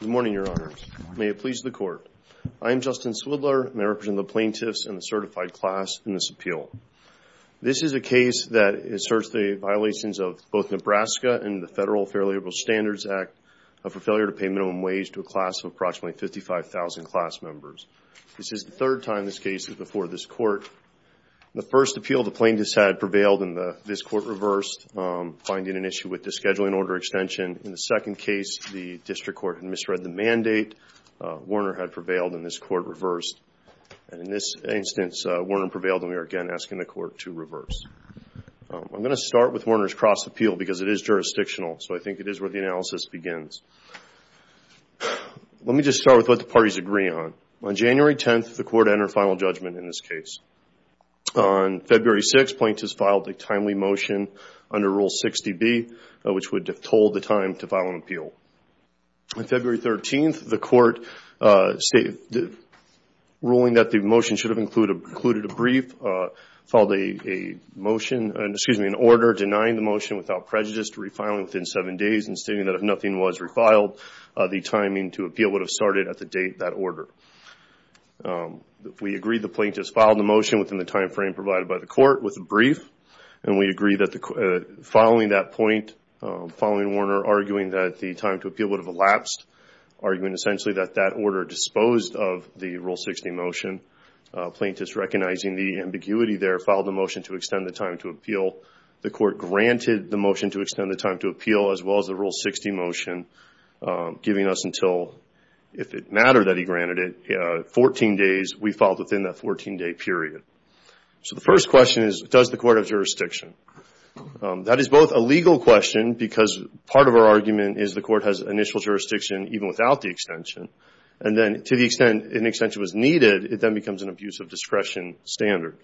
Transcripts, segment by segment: Good morning, Your Honors. May it please the Court. I am Justin Swidler, and I represent the plaintiffs and the certified class in this appeal. This is a case that asserts the violations of both Nebraska and the Federal Fair Labor Standards Act of a failure to pay minimum wage to a class of approximately 55,000 class members. This is the third time this case is before this Court. The first appeal the plaintiffs had prevailed and this Court reversed, finding an issue with the Scheduling Order Extension. In the second case, the District Court had misread the mandate. Werner had prevailed and this Court reversed. In this instance, Werner prevailed and we are again asking the Court to reverse. I am going to start with Werner's cross appeal because it is jurisdictional, so I think it is where the analysis begins. Let me just start with what the parties agree on. On January 10th, the Court entered final judgment in this case. On February 6th, the plaintiffs filed a timely motion under Rule 60B, which would withhold the time to file an appeal. On February 13th, the Court, ruling that the motion should have included a brief, filed an order denying the motion without prejudice to refiling within seven days and stating that if nothing was agreed, the plaintiffs filed the motion within the time frame provided by the Court with a brief. We agree that following that point, following Werner arguing that the time to appeal would have elapsed, arguing essentially that that order disposed of the Rule 60 motion, plaintiffs recognizing the ambiguity there, filed the motion to extend the time to appeal. The Court granted the motion to extend the time to appeal as well as the Rule 60 motion, giving us until, if it mattered that he granted it, 14 days. We filed within that 14-day period. So the first question is, does the Court have jurisdiction? That is both a legal question because part of our argument is the Court has initial jurisdiction even without the extension, and then to the extent an extension was needed, it then becomes an abuse of discretion standard.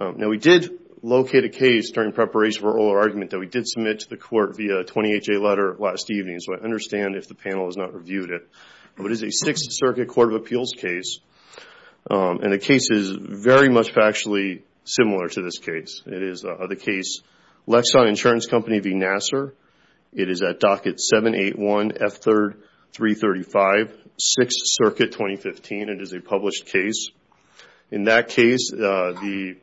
Now we did locate a case during preparation for oral argument that we did submit to the panel to understand if the panel has not reviewed it. It is a Sixth Circuit Court of Appeals case and the case is very much factually similar to this case. It is the case Lexon Insurance Company v. Nassar. It is at docket 781 F3, 335, Sixth Circuit, 2015. It is a published case. In that case, the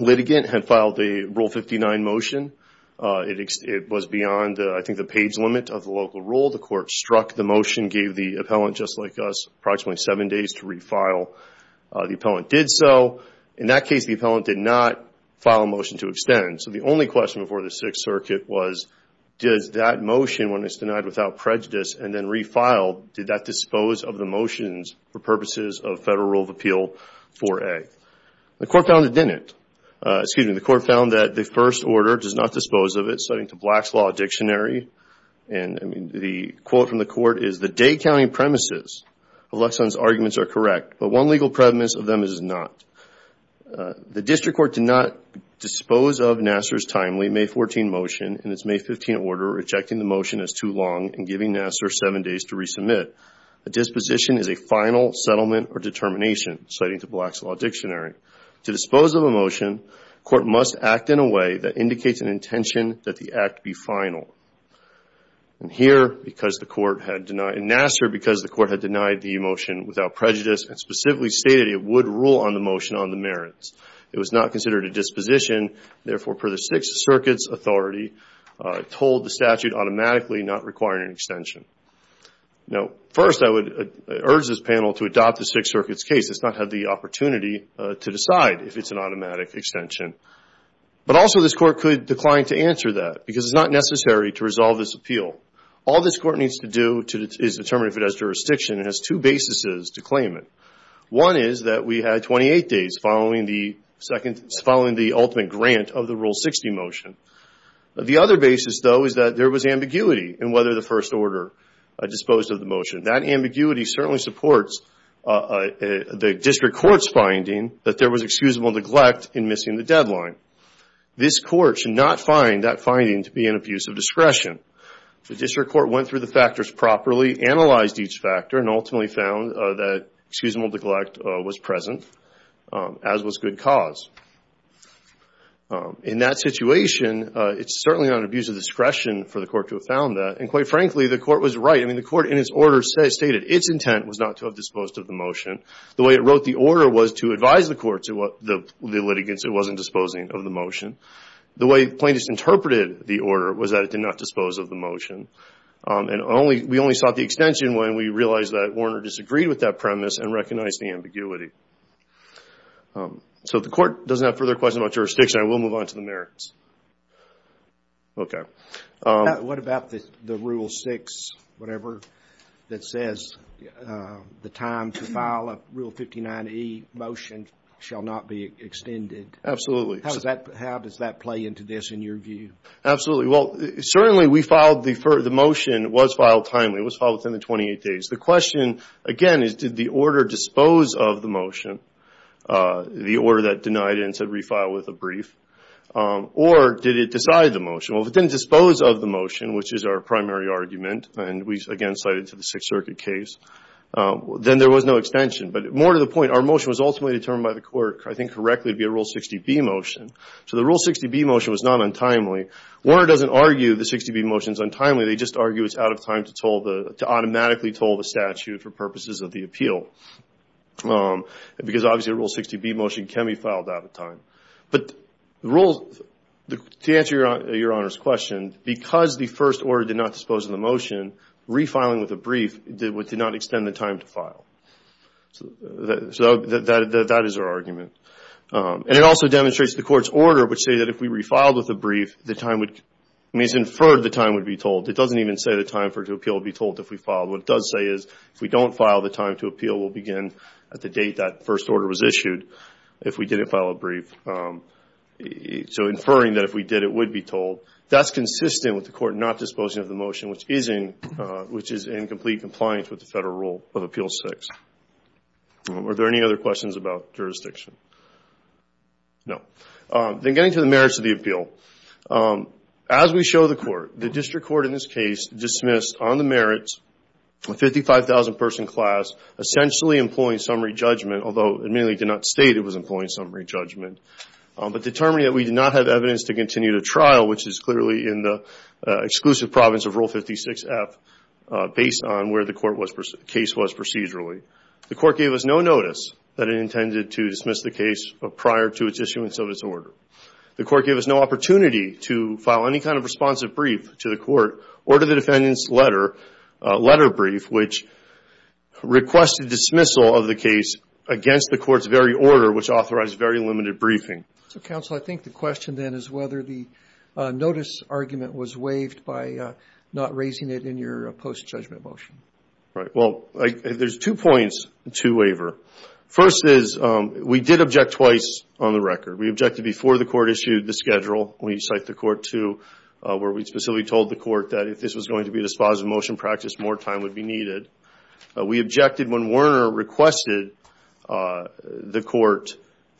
litigant had filed the Rule 59 motion. It was beyond, I think, the page limit of the local rule. The Court struck the motion, gave the appellant, just like us, approximately seven days to refile. The appellant did so. In that case, the appellant did not file a motion to extend. So the only question before the Sixth Circuit was, does that motion, when it is denied without prejudice and then refiled, did that dispose of the motions for purposes of Federal Rule of Appeal 4A? The Court found it did not. Excuse me, the quote from the Court is, the day-counting premises of Lexon's arguments are correct, but one legal premise of them is not. The District Court did not dispose of Nassar's timely May 14 motion in its May 15 order, rejecting the motion as too long and giving Nassar seven days to resubmit. A disposition is a final settlement or determination, citing the Black's Law Dictionary. To dispose of a motion, the Court must act in a way that Here, because the Court had denied, in Nassar, because the Court had denied the motion without prejudice and specifically stated it would rule on the motion on the merits. It was not considered a disposition, therefore, per the Sixth Circuit's authority, told the statute automatically not requiring an extension. Now, first, I would urge this panel to adopt the Sixth Circuit's case. It's not had the opportunity to decide if it's an automatic extension. But also, this Court could decline to answer that, because it's not necessary to resolve this appeal. All this Court needs to do is determine if it has jurisdiction and has two basis to claim it. One is that we had 28 days following the ultimate grant of the Rule 60 motion. The other basis, though, is that there was ambiguity in whether the first order disposed of the motion. That ambiguity certainly supports the District Court's finding that there was excusable neglect in missing the deadline. This Court should not find that to be an abuse of discretion. The District Court went through the factors properly, analyzed each factor, and ultimately found that excusable neglect was present, as was good cause. In that situation, it's certainly not an abuse of discretion for the Court to have found that. And quite frankly, the Court was right. I mean, the Court, in its order, stated its intent was not to have disposed of the motion. The way it wrote the order was to advise the Court's litigants it wasn't disposing of the motion. The way plaintiffs interpreted the motion was that the Court did not dispose of the motion. And we only sought the extension when we realized that Warner disagreed with that premise and recognized the ambiguity. So if the Court doesn't have further questions about jurisdiction, I will move on to the merits. Okay. What about the Rule 6, whatever, that says the time to file a Rule 59e motion shall not be extended? Absolutely. How does that play into this, in your view? Absolutely. Well, certainly we filed the motion. It was filed timely. It was filed within the 28 days. The question, again, is did the order dispose of the motion, the order that denied it and said refile with a brief, or did it decide the motion? Well, if it didn't dispose of the motion, which is our primary argument, and we again cited to the Sixth Circuit case, then there was no extension. But more to the point, our motion was ultimately determined by the Court, I think correctly, to be a Rule 60b motion. So the Rule 60b motion was not filed untimely. Warner doesn't argue the 60b motion is untimely. They just argue it's out of time to automatically toll the statute for purposes of the appeal. Because obviously a Rule 60b motion can be filed out of time. But the Rule, to answer your Honor's question, because the first order did not dispose of the motion, refiling with a brief did not extend the time to file. So that is our argument. And it also demonstrates the Court's order, which say that if we refiled with a brief, it means inferred the time would be told. It doesn't even say the time for it to appeal would be told if we filed. What it does say is if we don't file, the time to appeal will begin at the date that first order was issued if we didn't file a brief. So inferring that if we did, it would be told, that's consistent with the Court not disposing of the motion, which is in complete compliance with the Federal Rule of Appeal 6. Are there any other questions about jurisdiction? No. Then getting to the merits of the appeal. As we show the Court, the District Court in this case dismissed on the merits a 55,000 person class essentially employing summary judgment, although it mainly did not state it was employing summary judgment. But determining that we did not have evidence to continue the trial, which is clearly in the exclusive province of Rule 56f, based on where the case was procedurally. The Court gave us no notice that it intended to dismiss the case prior to its issuance of its order. The Court gave us no opportunity to file any kind of responsive brief to the Court or to the defendant's letter brief, which requested dismissal of the case against the Court's very order, which authorized very limited briefing. So, Counsel, I think the question then is whether the notice argument was waived by not raising it in your post-judgment motion. Right. Well, there's two points, two waver. First is, we did object twice on the record. We objected before the Court issued the schedule. We cite the Court to where we specifically told the Court that if this was going to be a dispositive motion practice, more time would be needed. We objected when Werner requested the Court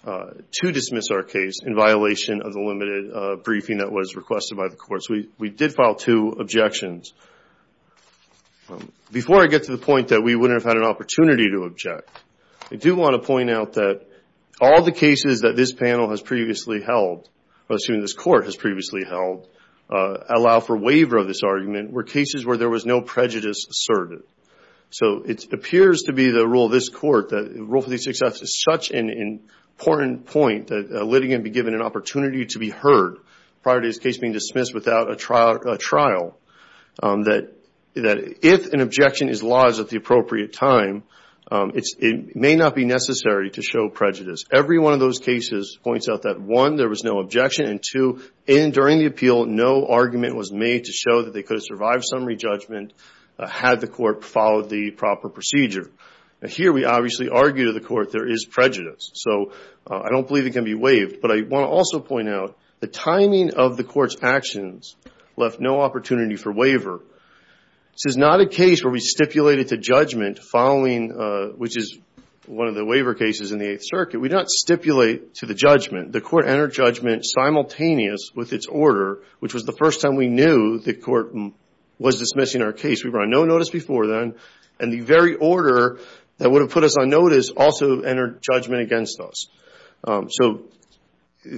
to dismiss our case in violation of the limited briefing that was requested by the Court. So, we did file two objections. Before I get to the point that we wouldn't have had an opportunity to object, I do want to point out that all the cases that this panel has previously held, I assume this Court has previously held, allow for waver of this argument were cases where there was no prejudice asserted. So, it appears to be the rule of this Court, the rule for the success is such an important point that letting it be given an opportunity to be heard prior to this case being dismissed without a trial, that if an objection is lodged at the appropriate time, it may not be necessary to show prejudice. Every one of those cases points out that one, there was no objection and two, during the appeal, no argument was made to show that they could have survived summary judgment had the Court followed the proper procedure. Here, we obviously argue to the Court there is prejudice. So, I don't believe it can be waived, but I want to also point out the timing of the Court's actions left no opportunity for waver. This is not a case where we stipulated to judgment following, which is one of the waver cases in the Eighth Circuit, we don't stipulate to the judgment. The Court entered judgment simultaneous with its order, which was the first time we knew the Court was dismissing our case. We were on no notice before then and the very order that would have put us on notice also entered judgment against us. So,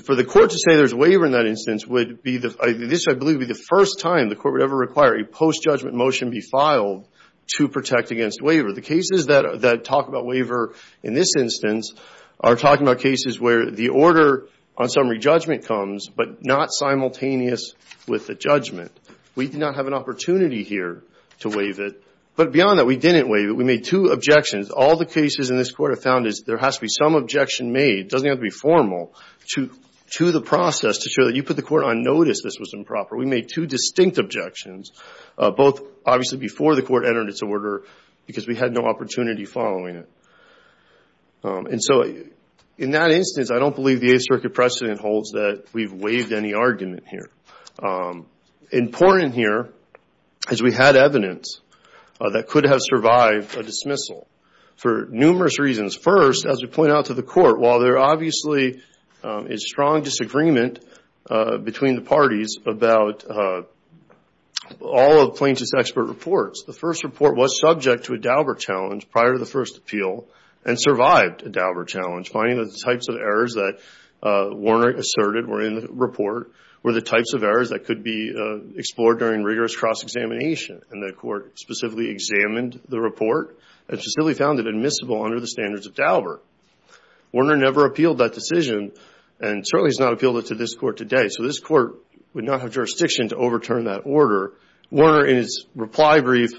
for the Court to say there's waver in that instance would be the, this I believe would be the first time the Court would ever require a post-judgment motion be filed to protect against waver. The cases that talk about waver in this instance are talking about cases where the order on summary judgment comes, but not simultaneous with the judgment. We do not have an opportunity here to waive it. But beyond that, we didn't make two objections. All the cases in this Court have found is there has to be some objection made, it doesn't have to be formal, to the process to show that you put the Court on notice this was improper. We made two distinct objections, both obviously before the Court entered its order because we had no opportunity following it. And so, in that instance I don't believe the Eighth Circuit precedent holds that we've waived any argument here. Important here is we had evidence that could have survived a dismissal for numerous reasons. First, as we point out to the Court, while there obviously is strong disagreement between the parties about all of Plaintiff's expert reports, the first report was subject to a Dauber challenge prior to the first appeal and survived a Dauber challenge. Finding that the types of errors that Warner asserted were in the report were the types of errors that could be explored during rigorous cross-examination. And the Court specifically examined the report and specifically found it admissible under the standards of Dauber. Warner never appealed that decision and certainly has not appealed it to this Court today. So this Court would not have jurisdiction to overturn that order. Warner, in his reply brief,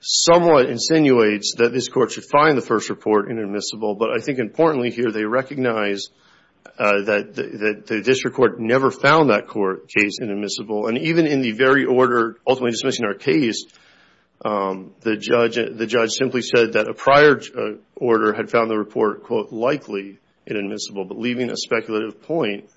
somewhat insinuates that this Court should find the first report inadmissible. But I think importantly here they recognize that the District Court never found that court case inadmissible. And even in the very order ultimately dismissing our case, the judge simply said that a prior order had found the report, quote, likely inadmissible. But leaving a speculative point,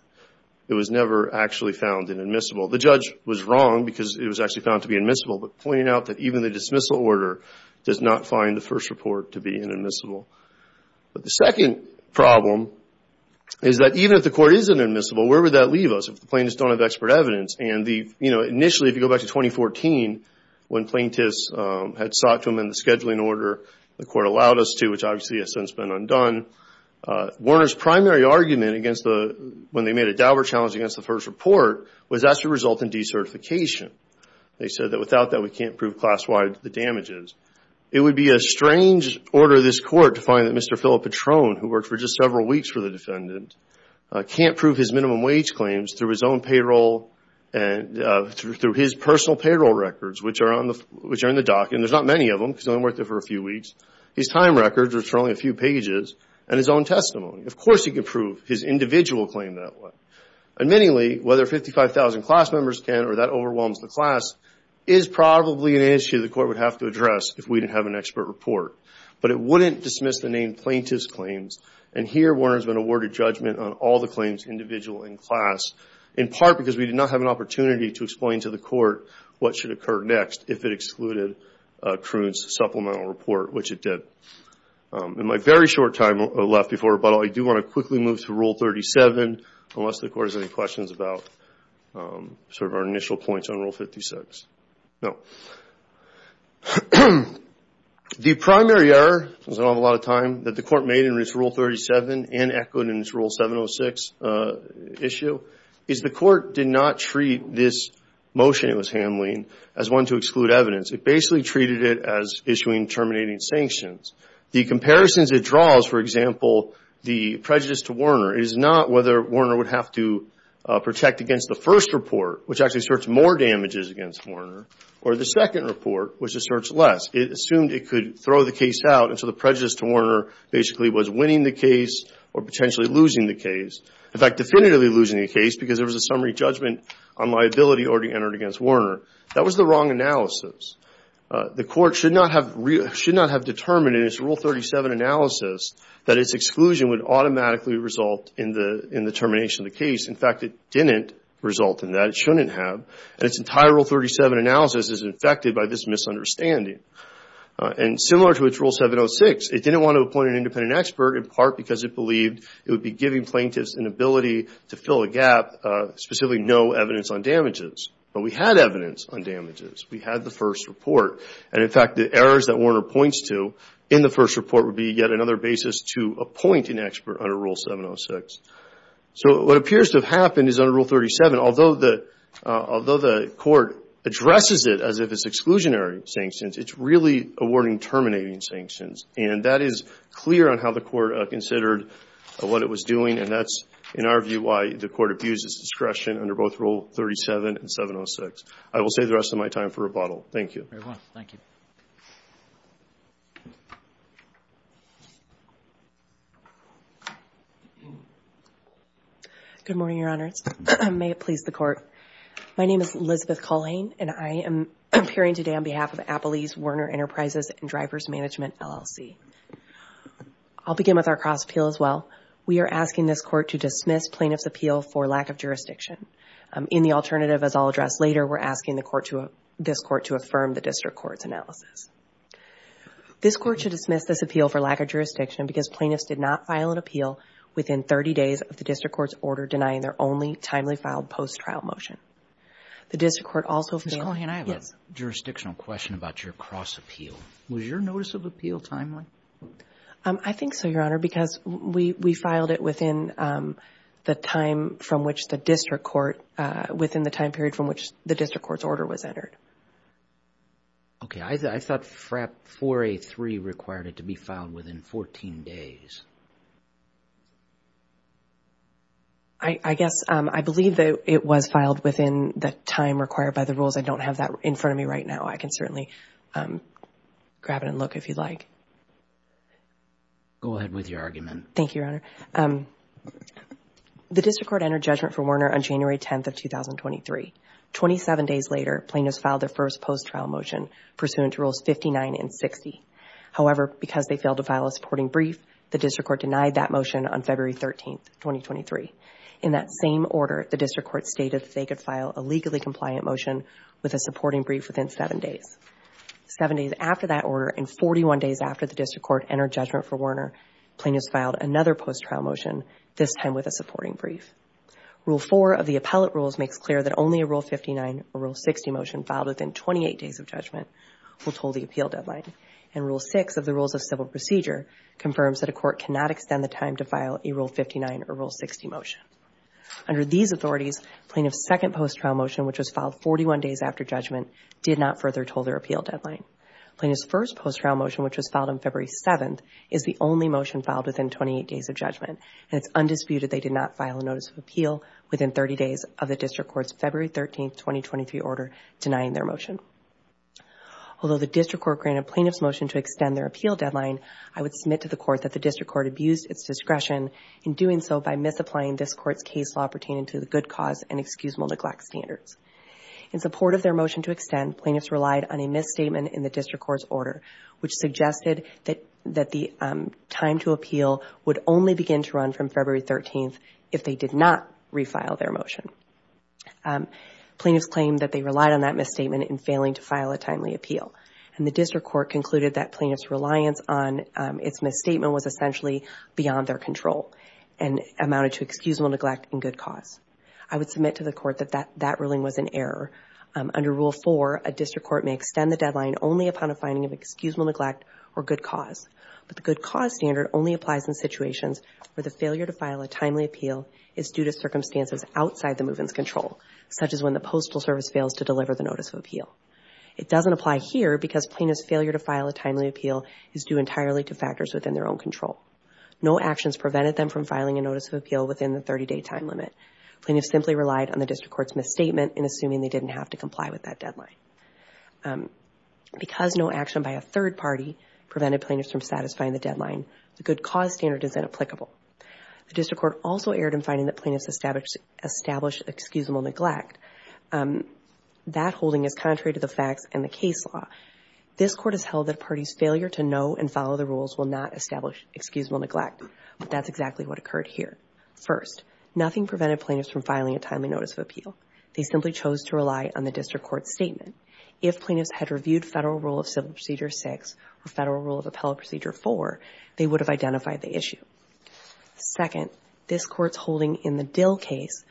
it was never actually found inadmissible. The judge was wrong because it was actually found to be admissible. But pointing out that even the dismissal order does not find the first report to be inadmissible. But the second problem is that even if the Court is inadmissible, where would that leave us if the plaintiffs don't have expert evidence? And the, you know, initially if you go back to 2014, when plaintiffs had sought to amend the scheduling order the Court allowed us to, which obviously has since been undone, Warner's primary argument against the, when they made a Dauber challenge against the first report, was that it should result in decertification. They said that without that we can't prove class-wide the damages. It would be a strange order of this Court to find that Mr. Philip Petrone, who worked for just several weeks for the defendant, can't prove his minimum wage claims through his own payroll and through his personal payroll records, which are on the, which are in the docket, and there's not many of them because he only worked there for a few weeks, his time records, which are only a few pages, and his own testimony. Of course he can prove his individual claim that way. Admittingly, whether 55,000 class members can or that overwhelms the class is probably an issue the Court would have to address if we didn't have an expert report, but it wouldn't dismiss the name plaintiff's claims, and here Warner's been awarded judgment on all the claims individual and class, in part because we did not have an opportunity to explain to the Court what should occur next if it excluded Kroon's supplemental report, which it did. In my very short time left before rebuttal, I do want to quickly move to Rule 37, unless the Court has any questions about sort of our initial points on Rule 56. No. The primary error, because I don't have a lot of time, that the Court made in its Rule 37 and echoed in its Rule 706 issue is the Court did not treat this motion it was handling as one to exclude evidence. It basically treated it as issuing terminating sanctions. The comparisons it draws, for example, the prejudice to Warner, is not whether Warner would have to protect against the first report, which actually asserts more damages against Warner, or the second report, which asserts less. It assumed it could throw the case out, and so the prejudice to Warner basically was winning the case or potentially losing the case. In fact, definitively losing the case because there was a summary judgment on liability already entered against Warner. That was the wrong analysis. The Court should not have determined in its Rule 37 analysis that its exclusion would automatically result in the termination of the case. In fact, it didn't result in that. It shouldn't have. Its entire Rule 37 analysis is infected by this misunderstanding. Similar to its Rule 706, it didn't want to appoint an independent expert in part because it believed it would be giving plaintiffs an ability to fill a gap, specifically no evidence on damages. But we had evidence on damages. We had the first report. In fact, the errors that Warner points to in the first report would be yet another basis to appoint an expert under Rule 706. So what appears to have happened is under Rule 37, although the Court addresses it as if it's exclusionary sanctions, it's really awarding terminating sanctions. And that is clear on how the Court considered what it was doing, and that's, in our view, why the Court abused its discretion under both Rule 37 and 706. I will save the rest of my time for rebuttal. Thank you. Thank you very much. Thank you. Good morning, Your Honors. May it please the Court. My name is Elizabeth Culhane, and I am appearing today on behalf of Appley's Warner Enterprises and Drivers Management, LLC. I'll begin with our cross-appeal as well. We are asking this Court to dismiss plaintiff's appeal for lack of jurisdiction. In the alternative, as I'll address later, we're asking this Court to affirm the district court's analysis. This Court should dismiss this appeal for lack of jurisdiction because plaintiffs did not file an appeal within 30 days of the district court's order denying their only timely-filed post-trial motion. The district court also failed. Ms. Culhane, I have a jurisdictional question about your cross-appeal. Was your notice of appeal timely? I think so, Your Honor, because we filed it within the time from which the district court within the time period from which the district court's order was entered. Okay. I thought 4A3 required it to be filed within 14 days. I guess, I believe that it was filed within the time required by the rules. I don't have that in front of me right now. I can certainly grab it and look if you'd like. Go ahead with your argument. Thank you, Your Honor. The district court entered judgment for Werner on January 10th of 2023. Twenty-seven days later, plaintiffs filed their first post-trial motion pursuant to Rules 59 and 60. However, because they failed to file a supporting brief, the district court denied that motion on February 13th, 2023. In that same order, the district court stated that they could file a legally compliant motion with a supporting brief within seven days. Seven days after that order and 41 days after the district court entered judgment for Werner, plaintiffs filed another post-trial motion, this time with a supporting brief. Rule 4 of the appellate rules makes clear that only a Rule 59 or Rule 60 motion filed within 28 days of judgment will toll the appeal deadline. And Rule 6 of the Rules of Civil Procedure confirms that a court cannot extend the time to file a Rule 59 or Rule 60 motion. Under these authorities, plaintiff's second post-trial motion, which was filed 41 days after judgment, did not further toll their appeal deadline. Plaintiff's first post-trial motion, which was filed on February 7th, is the only motion filed within 28 days of judgment and it's undisputed they did not file a notice of appeal within 30 days of the district court's February 13th, 2023 order denying their motion. Although the district court granted plaintiff's motion to extend their appeal deadline, I would submit to the court that the district court abused its discretion in doing so by misapplying this court's case law pertaining to the good cause and excusable neglect standards. In support of their motion to extend, plaintiffs relied on a misstatement in the district court's order which suggested that the time to appeal would only begin to run from February 13th if they did not refile their motion. Plaintiffs claimed that they relied on that misstatement in failing to file a timely appeal. And the district court concluded that plaintiff's reliance on its misstatement was essentially beyond their control and amounted to excusable neglect and good cause. I would submit to the court that that ruling was an error. Under Rule 4, a district court may extend the deadline only upon a finding of excusable neglect or good cause. But the good cause standard only applies in situations where the failure to file a timely appeal is due to circumstances outside the movement's control, such as when the postal service fails to deliver the notice of appeal. It doesn't apply here because plaintiff's failure to file a timely appeal is due entirely to factors within their own control. No actions prevented them from filing a notice of appeal within the 30-day time limit. Plaintiffs simply relied on the district court's misstatement in assuming they didn't have to comply with that deadline. Because no action by a third party prevented plaintiffs from satisfying the deadline, the good cause standard is inapplicable. The district court also erred in finding that plaintiffs established excusable neglect. That holding is contrary to the facts and the case law. This court has held that a party's failure to know and follow the rules will not establish excusable neglect. But that's exactly what occurred here. First, nothing prevented plaintiffs from filing a timely appeal. They simply chose to rely on the district court's statement. If plaintiffs had reviewed Federal Rule of Civil Procedure 6 or Federal Rule of Appellate Procedure 4, they would have identified the issue. Second, this court's holding in the Dill case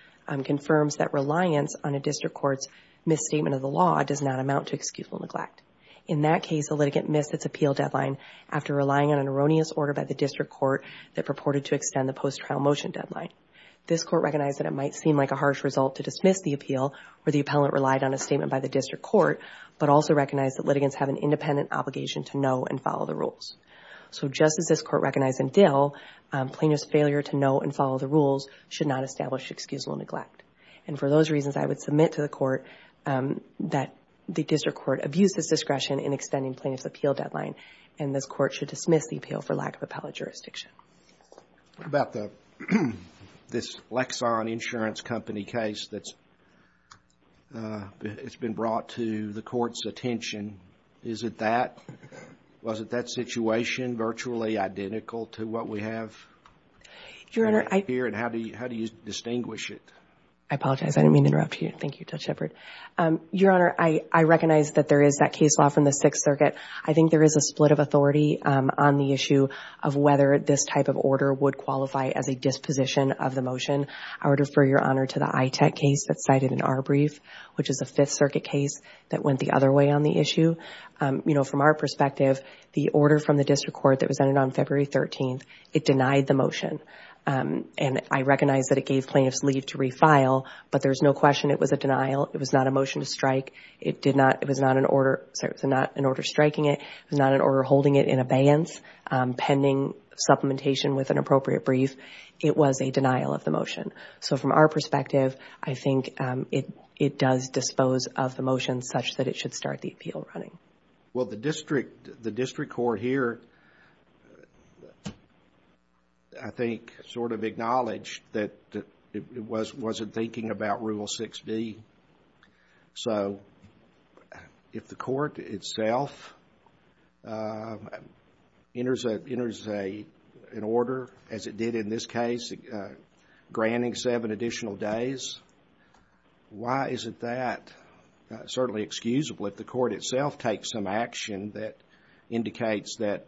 confirms that reliance on a district court's misstatement of the law does not amount to excusable neglect. In that case, a litigant missed its appeal deadline after relying on an erroneous order by the district court that purported to extend the post-trial motion deadline. This court recognized that it might seem like a harsh result to dismiss the appeal where the appellant relied on a statement by the district court, but also recognized that litigants have an independent obligation to know and follow the rules. So just as this court recognized in Dill, plaintiffs' failure to know and follow the rules should not establish excusable neglect. And for those reasons, I would submit to the court that the district court abused this discretion in extending plaintiffs' appeal deadline, and this court should dismiss the lack of appellate jurisdiction. What about this Lexan Insurance Company case that's it's been brought to the court's attention? Is it that? Was it that situation virtually identical to what we have here? And how do you distinguish it? I apologize. I didn't mean to interrupt you. Thank you, Judge Shepard. Your Honor, I recognize that there is that case law from the Sixth of whether this type of order would qualify as a disposition of the motion. I would refer Your Honor to the ITEC case that's cited in our brief, which is a Fifth Circuit case that went the other way on the issue. You know, from our perspective, the order from the district court that was entered on February 13th, it denied the motion. And I recognize that it gave plaintiffs leave to refile, but there's no question it was a denial. It was not a motion to strike. It was not an order striking it. It was not an order holding it in abeyance. Pending supplementation with an appropriate brief, it was a denial of the motion. So, from our perspective, I think it does dispose of the motion such that it should start the appeal running. Well, the district court here I think sort of acknowledged that it wasn't thinking about Rule 6B. So, if the court itself enters an order, as it did in this case, granting seven additional days, why isn't that certainly excusable if the court itself takes some action that indicates that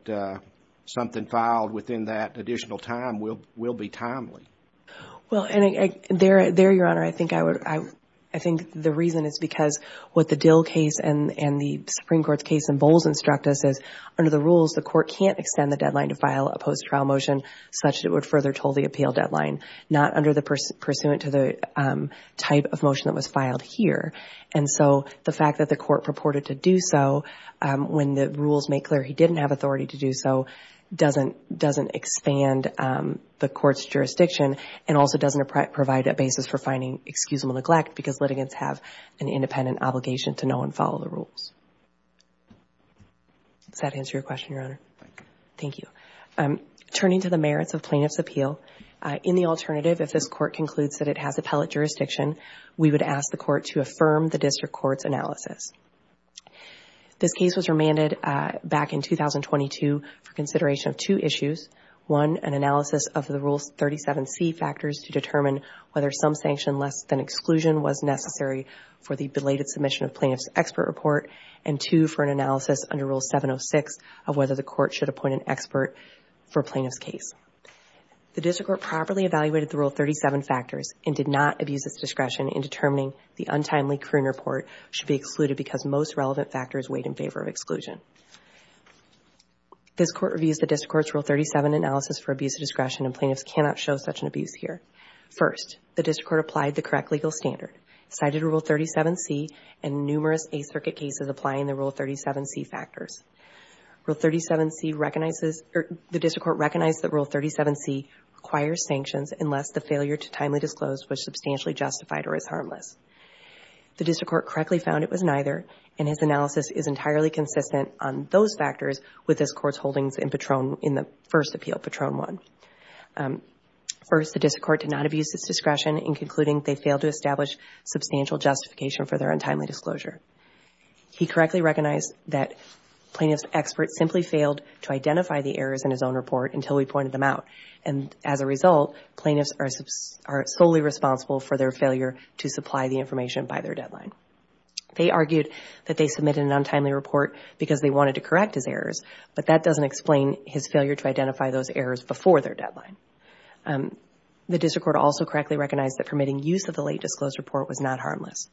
something filed within that additional time will be timely? Well, there, Your Honor, I think the reason is because what the Dill case and the Supreme the court can't extend the deadline to file a post-trial motion such that it would further toll the appeal deadline, not under the pursuant to the type of motion that was filed here. And so, the fact that the court purported to do so when the rules make clear he didn't have authority to do so doesn't expand the court's jurisdiction and also doesn't provide a basis for finding excusable neglect because litigants have an independent obligation to know and follow the rules. Does that answer your question, Your Honor? Thank you. Turning to the merits of plaintiff's appeal, in the alternative, if this court concludes that it has appellate jurisdiction, we would ask the court to affirm the district court's analysis. This case was remanded back in 2022 for consideration of two issues. One, an analysis of the Rule 37C factors to determine whether some sanction less than exclusion was for the belated submission of plaintiff's expert report. And two, for an analysis under Rule 706 of whether the court should appoint an expert for a plaintiff's case. The district court properly evaluated the Rule 37 factors and did not abuse its discretion in determining the untimely career report should be excluded because most relevant factors weighed in favor of exclusion. This court reviews the district court's Rule 37 analysis for abuse of discretion and plaintiffs cannot show such an abuse here. First, the district court applied the correct legal standard, cited Rule 37C, and numerous Eighth Circuit cases applying the Rule 37C factors. Rule 37C recognizes, the district court recognized that Rule 37C requires sanctions unless the failure to timely disclose was substantially justified or is harmless. The district court correctly found it was neither and his analysis is entirely consistent on those factors with this court's holdings in Patron, in the first appeal, Patron 1. First, the district court did not abuse its discretion in concluding they failed to establish substantial justification for their untimely disclosure. He correctly recognized that plaintiff's expert simply failed to identify the errors in his own report until we pointed them out. And as a result, plaintiffs are solely responsible for their failure to supply the information by their deadline. They argued that they submitted an untimely report because they wanted to correct his errors, but that doesn't explain his failure to identify those errors before their deadline. The district court also correctly recognized that permitting use of the late disclosed report was not harmless.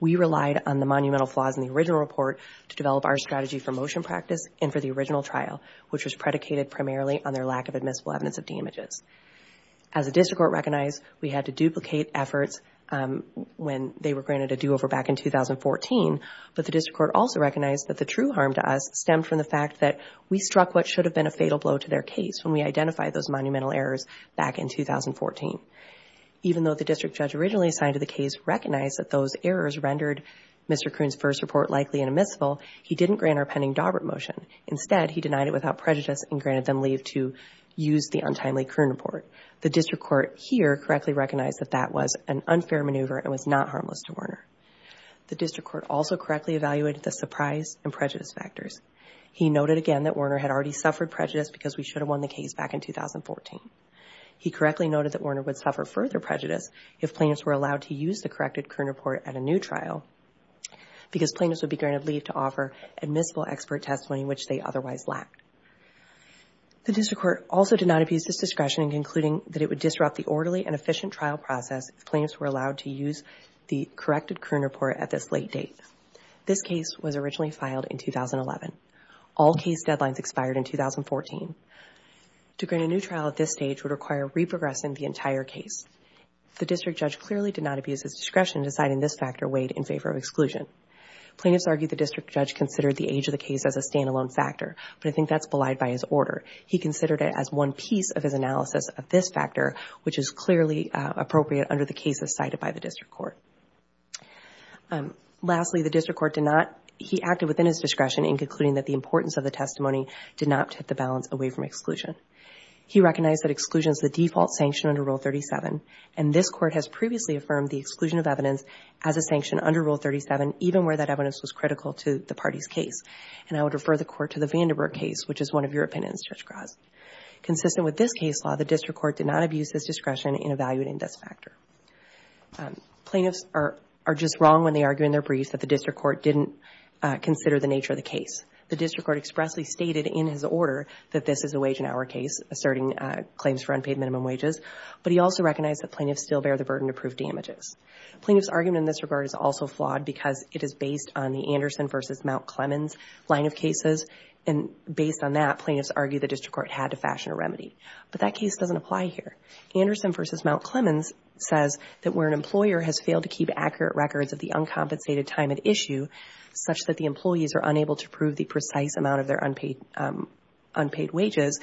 We relied on the monumental flaws in the original report to develop our strategy for motion practice and for the original trial, which was predicated primarily on their lack of admissible evidence of damages. As a district court recognized, we had to duplicate efforts when they were granted a do-over back in 2014, but the district court also recognized that the true harm to us stemmed from the fact that we struck what should have been a fatal blow to their case when we identified those monumental errors back in 2014. Even though the district judge originally assigned to the case recognized that those errors rendered Mr. Kroon's first report likely and admissible, he didn't grant our pending Daubert motion. Instead, he denied it without prejudice and granted them leave to use the untimely Kroon report. The district court here correctly recognized that that was an unfair maneuver and was not harmless to Werner. The district court also correctly evaluated the surprise and prejudice factors. He noted again that Werner had already suffered prejudice because we should have won the case back in 2014. He correctly noted that Werner would suffer further prejudice if plaintiffs were allowed to use the corrected Kroon report at a new trial because plaintiffs would be granted leave to offer admissible expert testimony, which they otherwise lacked. The district court also did not abuse this discretion in concluding that it would disrupt the orderly and efficient trial process if plaintiffs were allowed to use the corrected Kroon report at this late date. This case was originally filed in 2011. All case deadlines expired in 2014. To grant a new trial at this stage would require reprogressing the entire case. The district judge clearly did not abuse his discretion deciding this factor weighed in favor of exclusion. Plaintiffs argued the district judge considered the age of the case as a standalone factor, but I think that's belied by his order. He considered it as one piece of his analysis of this factor, which is clearly appropriate under the cases cited by the district court. Lastly, the district court did not, he acted within his discretion in concluding that the importance of the testimony did not tip the balance away from exclusion. He recognized that exclusion is the default sanction under Rule 37, and this court has previously affirmed the exclusion of evidence as a sanction under Rule 37, even where that evidence was critical to the party's case. And I would refer the court to the Vandenberg case, which is one of your opinions, Judge Gras. Consistent with this case law, the district court did not abuse discretion in evaluating this factor. Plaintiffs are just wrong when they argue in their brief that the district court didn't consider the nature of the case. The district court expressly stated in his order that this is a wage and hour case, asserting claims for unpaid minimum wages, but he also recognized that plaintiffs still bear the burden to prove damages. Plaintiffs' argument in this regard is also flawed because it is based on the Anderson versus Mount Clemens line of cases, and based on that, plaintiffs argue the district court had to fashion a remedy. But that case doesn't apply here. Anderson versus Mount Clemens says that where an employer has failed to keep accurate records of the uncompensated time at issue, such that the employees are unable to prove the precise amount of their unpaid wages,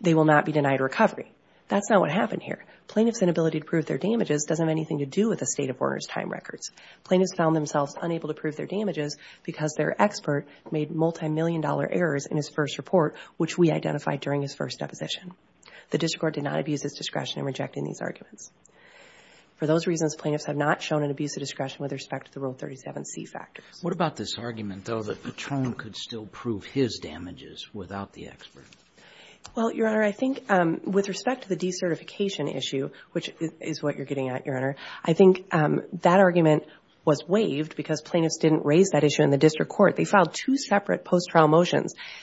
they will not be denied recovery. That's not what happened here. Plaintiffs' inability to prove their damages doesn't have anything to do with the state of order's time records. Plaintiffs found themselves unable to prove their damages because their expert made multimillion-dollar errors in his first report, which we identified during his first deposition. The district court did not abuse its discretion in rejecting these arguments. For those reasons, plaintiffs have not shown an abuse of discretion with respect to the Rule 37c factors. What about this argument, though, that Patron could still prove his damages without the expert? Well, Your Honor, I think with respect to the decertification issue, which is what you're getting at, Your Honor, I think that argument was waived because plaintiffs didn't raise that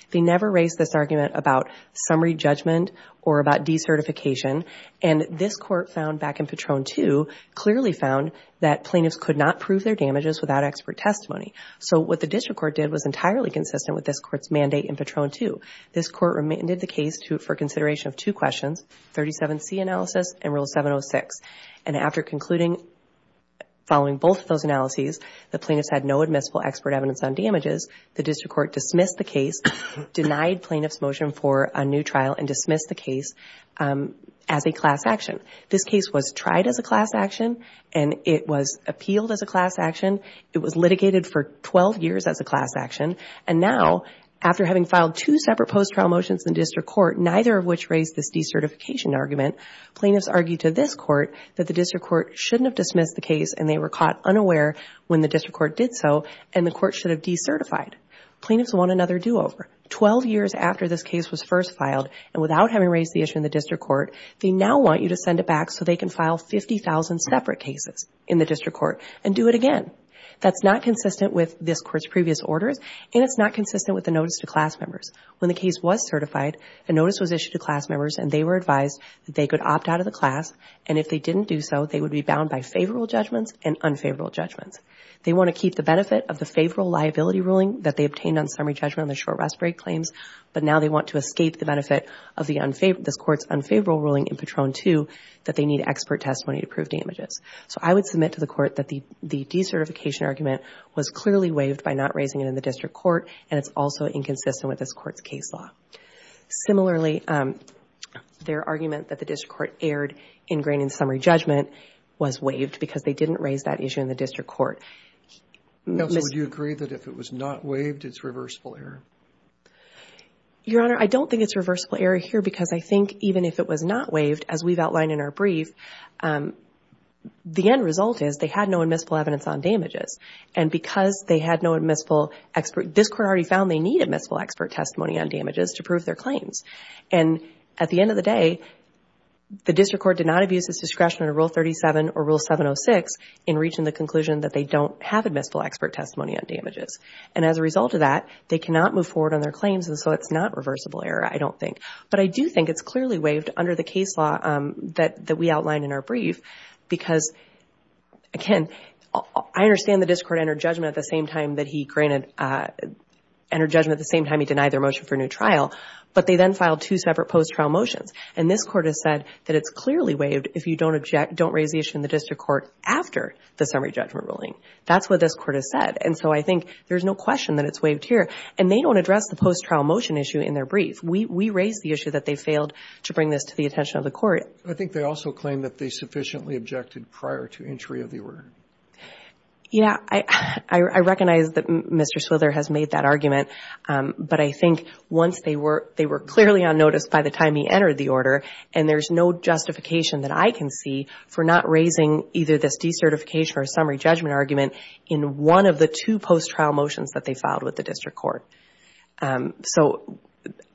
They never raised this argument about summary judgment or about decertification, and this court found back in Patron 2 clearly found that plaintiffs could not prove their damages without expert testimony. So what the district court did was entirely consistent with this court's mandate in Patron 2. This court remanded the case for consideration of two questions, 37c analysis and Rule 706. And after concluding, following both of those analyses, the plaintiffs had no admissible expert evidence on damages. The district court dismissed the case, denied plaintiff's motion for a new trial, and dismissed the case as a class action. This case was tried as a class action, and it was appealed as a class action. It was litigated for 12 years as a class action. And now, after having filed two separate post-trial motions in district court, neither of which raised this decertification argument, plaintiffs argued to this court that the district court shouldn't have dismissed the case, and they were caught unaware when the district court did so, and the court should have decertified. Plaintiffs want another do-over. Twelve years after this case was first filed, and without having raised the issue in the district court, they now want you to send it back so they can file 50,000 separate cases in the district court and do it again. That's not consistent with this court's previous orders, and it's not consistent with the notice to class members. When the case was certified, a notice was issued to class members, and they were advised that they could opt out of the class, and if they didn't do so, they would be bound by liability ruling that they obtained on summary judgment on the short respite claims, but now they want to escape the benefit of this court's unfavorable ruling in Patron 2 that they need expert testimony to prove damages. So I would submit to the court that the decertification argument was clearly waived by not raising it in the district court, and it's also inconsistent with this court's case law. Similarly, their argument that the district court erred in grain and summary judgment was waived because they didn't raise that issue in the district court. Would you agree that if it was not waived, it's reversible error? Your Honor, I don't think it's reversible error here because I think even if it was not waived, as we've outlined in our brief, the end result is they had no admissible evidence on damages, and because they had no admissible expert, this court already found they need admissible expert testimony on damages to prove their claims, and at the end of the day, the district court did not abuse its discretion under Rule 37 or Rule 706 in reaching the conclusion that they don't have admissible expert testimony on damages. And as a result of that, they cannot move forward on their claims, and so it's not reversible error, I don't think. But I do think it's clearly waived under the case law that we outlined in our brief because, again, I understand the district court entered judgment at the same time that he denied their motion for a new trial, but they then filed two separate post-trial motions, and this court has said that it's clearly waived if you don't raise the issue in the district court after the summary judgment ruling. That's what this court has said, and so I think there's no question that it's waived here, and they don't address the post-trial motion issue in their brief. We raised the issue that they failed to bring this to the attention of the court. I think they also claim that they sufficiently objected prior to entry of the order. Yeah, I recognize that Mr. Swither has made that argument, but I think once they were clearly on notice by the time he entered the order, and there's no justification that I can see for not raising either this decertification or summary judgment argument in one of the two post-trial motions that they filed with the district court. So,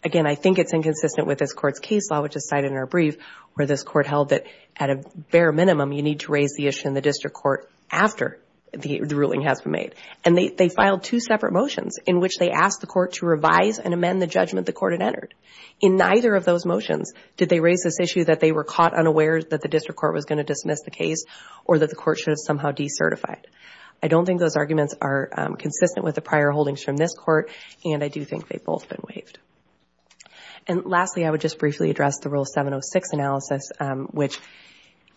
again, I think it's inconsistent with this court's case law, which is cited in our brief, where this court held that at a bare minimum, you need to raise the issue in the district court after the ruling has been made, and they filed two separate motions in which they asked the court to revise and amend the judgment the court had entered. In neither of those motions did they unaware that the district court was going to dismiss the case or that the court should have somehow decertified. I don't think those arguments are consistent with the prior holdings from this court, and I do think they've both been waived. And lastly, I would just briefly address the Rule 706 analysis, which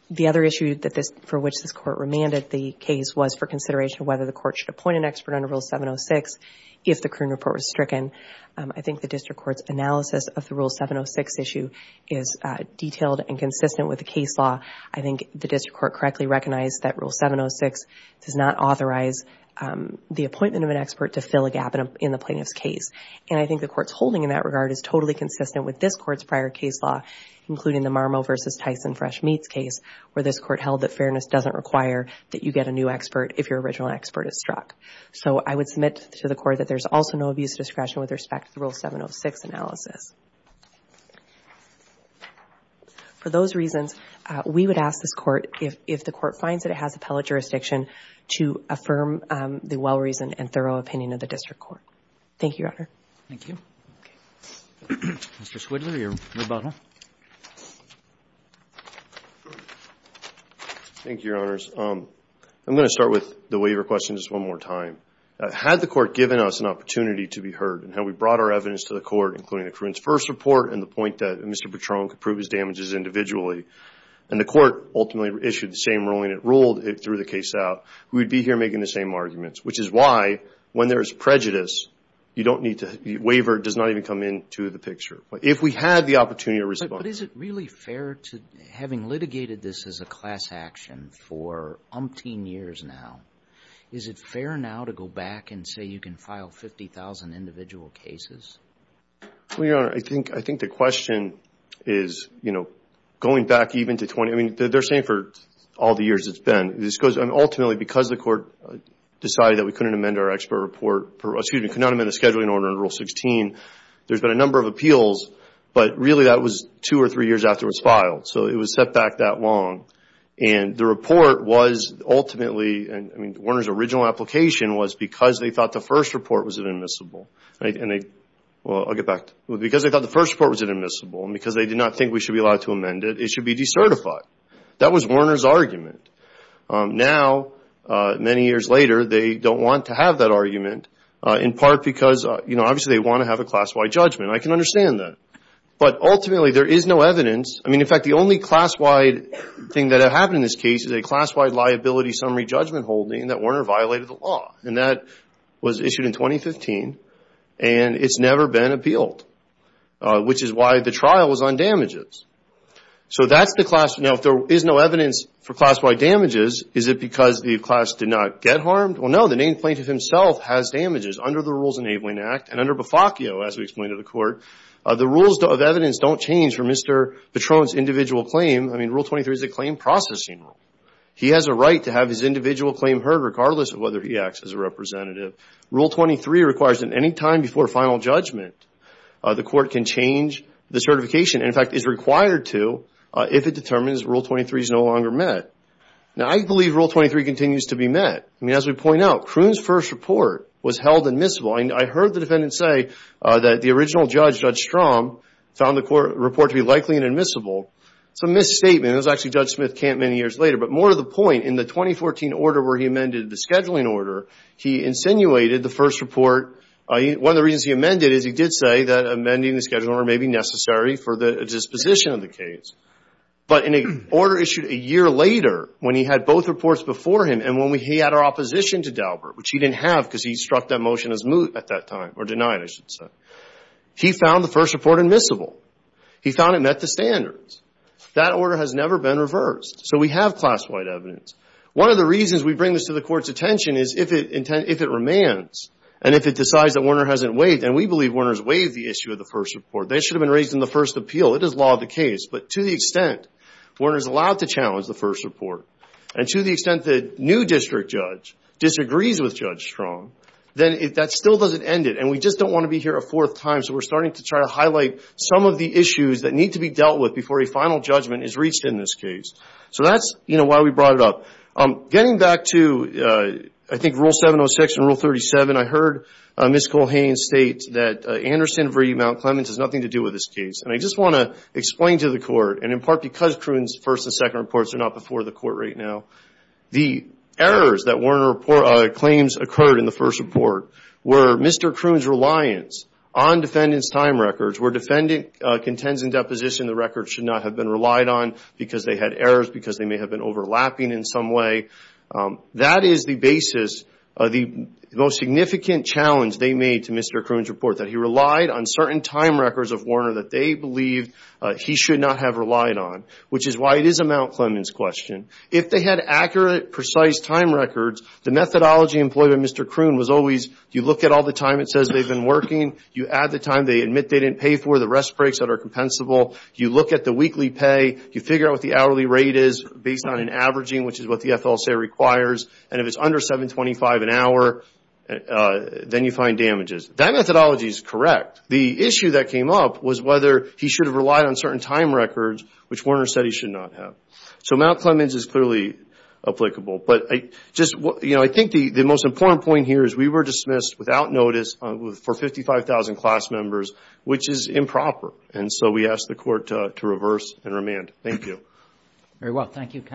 the other issue for which this court remanded the case was for consideration whether the court should appoint an expert under Rule 706 if the current report was stricken. I think the district court's analysis of the Rule 706 issue is detailed and consistent with the case law. I think the district court correctly recognized that Rule 706 does not authorize the appointment of an expert to fill a gap in the plaintiff's case, and I think the court's holding in that regard is totally consistent with this court's prior case law, including the Marmo v. Tyson Fresh Meats case, where this court held that fairness doesn't require that you get a new expert if your original expert is struck. So I would submit to the court that there's also no abuse of discretion with respect to the Rule 706 analysis. For those reasons, we would ask this court if the court finds that it has appellate jurisdiction to affirm the well-reasoned and thorough opinion of the district court. Thank you, Your Honor. Thank you. Mr. Swidler, your rebuttal. Thank you, Your Honors. I'm going to start with the waiver question just one more time. Had the court given us an opportunity to be heard and how we brought our evidence to the court, including the Kruen's first report and the point that Mr. Patron could prove his damages individually, and the court ultimately issued the same ruling, it ruled it through the case out, we would be here making the same arguments, which is why when there is prejudice, you don't need to waiver. It does not even come into the picture. If we had the opportunity to respond. But is it really fair to, having litigated this as a class action for umpteen years now, is it fair now to go back and say you can file 50,000 individual cases? Well, Your Honor, I think the question is, you know, going back even to 20, I mean, they're saying for all the years it's been. Ultimately, because the court decided that we couldn't amend our expert report, excuse me, could not amend the scheduling order in Rule 16, there's been a number of appeals. But really, that was two or three years after it was filed. So it was set back that long. And the report was ultimately, I mean, Warner's original application was because they thought the first report was inadmissible. And they, well, I'll get back to, because they thought the first report was inadmissible and because they did not think we should be allowed to amend it, it should be decertified. That was Warner's argument. Now, many years later, they don't want to have that argument in part because, you know, obviously they want to have a class-wide judgment. I can understand that. But ultimately, there is no class-wide judgment. The only class-wide thing that happened in this case is a class-wide liability summary judgment holding that Warner violated the law. And that was issued in 2015. And it's never been appealed, which is why the trial was on damages. So that's the class. Now, if there is no evidence for class-wide damages, is it because the class did not get harmed? Well, no. The named plaintiff himself has damages under the Rules Enabling Act. And under Bofaccio, as we explained to the court, the rules of evidence don't change for Mr. Patron's individual claim. I mean, Rule 23 is a claim processing rule. He has a right to have his individual claim heard, regardless of whether he acts as a representative. Rule 23 requires that any time before final judgment, the court can change the certification, and in fact is required to, if it determines Rule 23 is no longer met. Now, I believe Rule 23 continues to be met. I mean, as we point out, Kroon's first report was held admissible. I heard the defendant say that the original judge, Judge Strom, found the report to be likely and admissible. It's a misstatement. It was actually Judge Smith-Camp many years later. But more to the point, in the 2014 order where he amended the scheduling order, he insinuated the first report. One of the reasons he amended it is he did say that amending the scheduling order may be necessary for the disposition of the case. But in an order issued a year later, when he had both reports before him and when he had opposition to Daubert, which he didn't have because he struck that motion as moot at that time, or denied, I should say, he found the first report admissible. He found it met the standards. That order has never been reversed. So we have class-wide evidence. One of the reasons we bring this to the court's attention is if it remains and if it decides that Warner hasn't waived, and we believe Warner's waived the issue of the first report, they should have been raised in the first appeal. It is law of the case. But to the extent Warner's allowed to challenge the first report, and to the extent the new district judge disagrees with Judge Strong, then that still doesn't end it. And we just don't want to be here a fourth time. So we're starting to try to highlight some of the issues that need to be dealt with before a final judgment is reached in this case. So that's why we brought it up. Getting back to, I think, Rule 706 and Rule 37, I heard Ms. Colhane state that Anderson v. Mount Clements has nothing to do with this case. And I just want explain to the court, and in part because Kroon's first and second reports are not before the court right now, the errors that Warner claims occurred in the first report were Mr. Kroon's reliance on defendants' time records, where defendant contends in deposition the records should not have been relied on because they had errors, because they may have been overlapping in some way. That is the basis of the most significant challenge they made to Mr. Kroon's report, that he relied on certain time records of Warner that they believed he should not have relied on, which is why it is a Mount Clements question. If they had accurate, precise time records, the methodology employed by Mr. Kroon was always you look at all the time it says they've been working. You add the time they admit they didn't pay for, the rest breaks that are compensable. You look at the weekly pay. You figure out what the hourly rate is based on an averaging, which is what the FLSA requires. And if it's under $7.25 an hour, then you find damages. That methodology is correct. The issue that came up was whether he should have relied on certain time records, which Warner said he should not have. So Mount Clements is clearly applicable. I think the most important point here is we were dismissed without notice for 55,000 class members, which is improper. And so we ask the court to reverse and remand. Thank you. Very well. Thank you, counsel.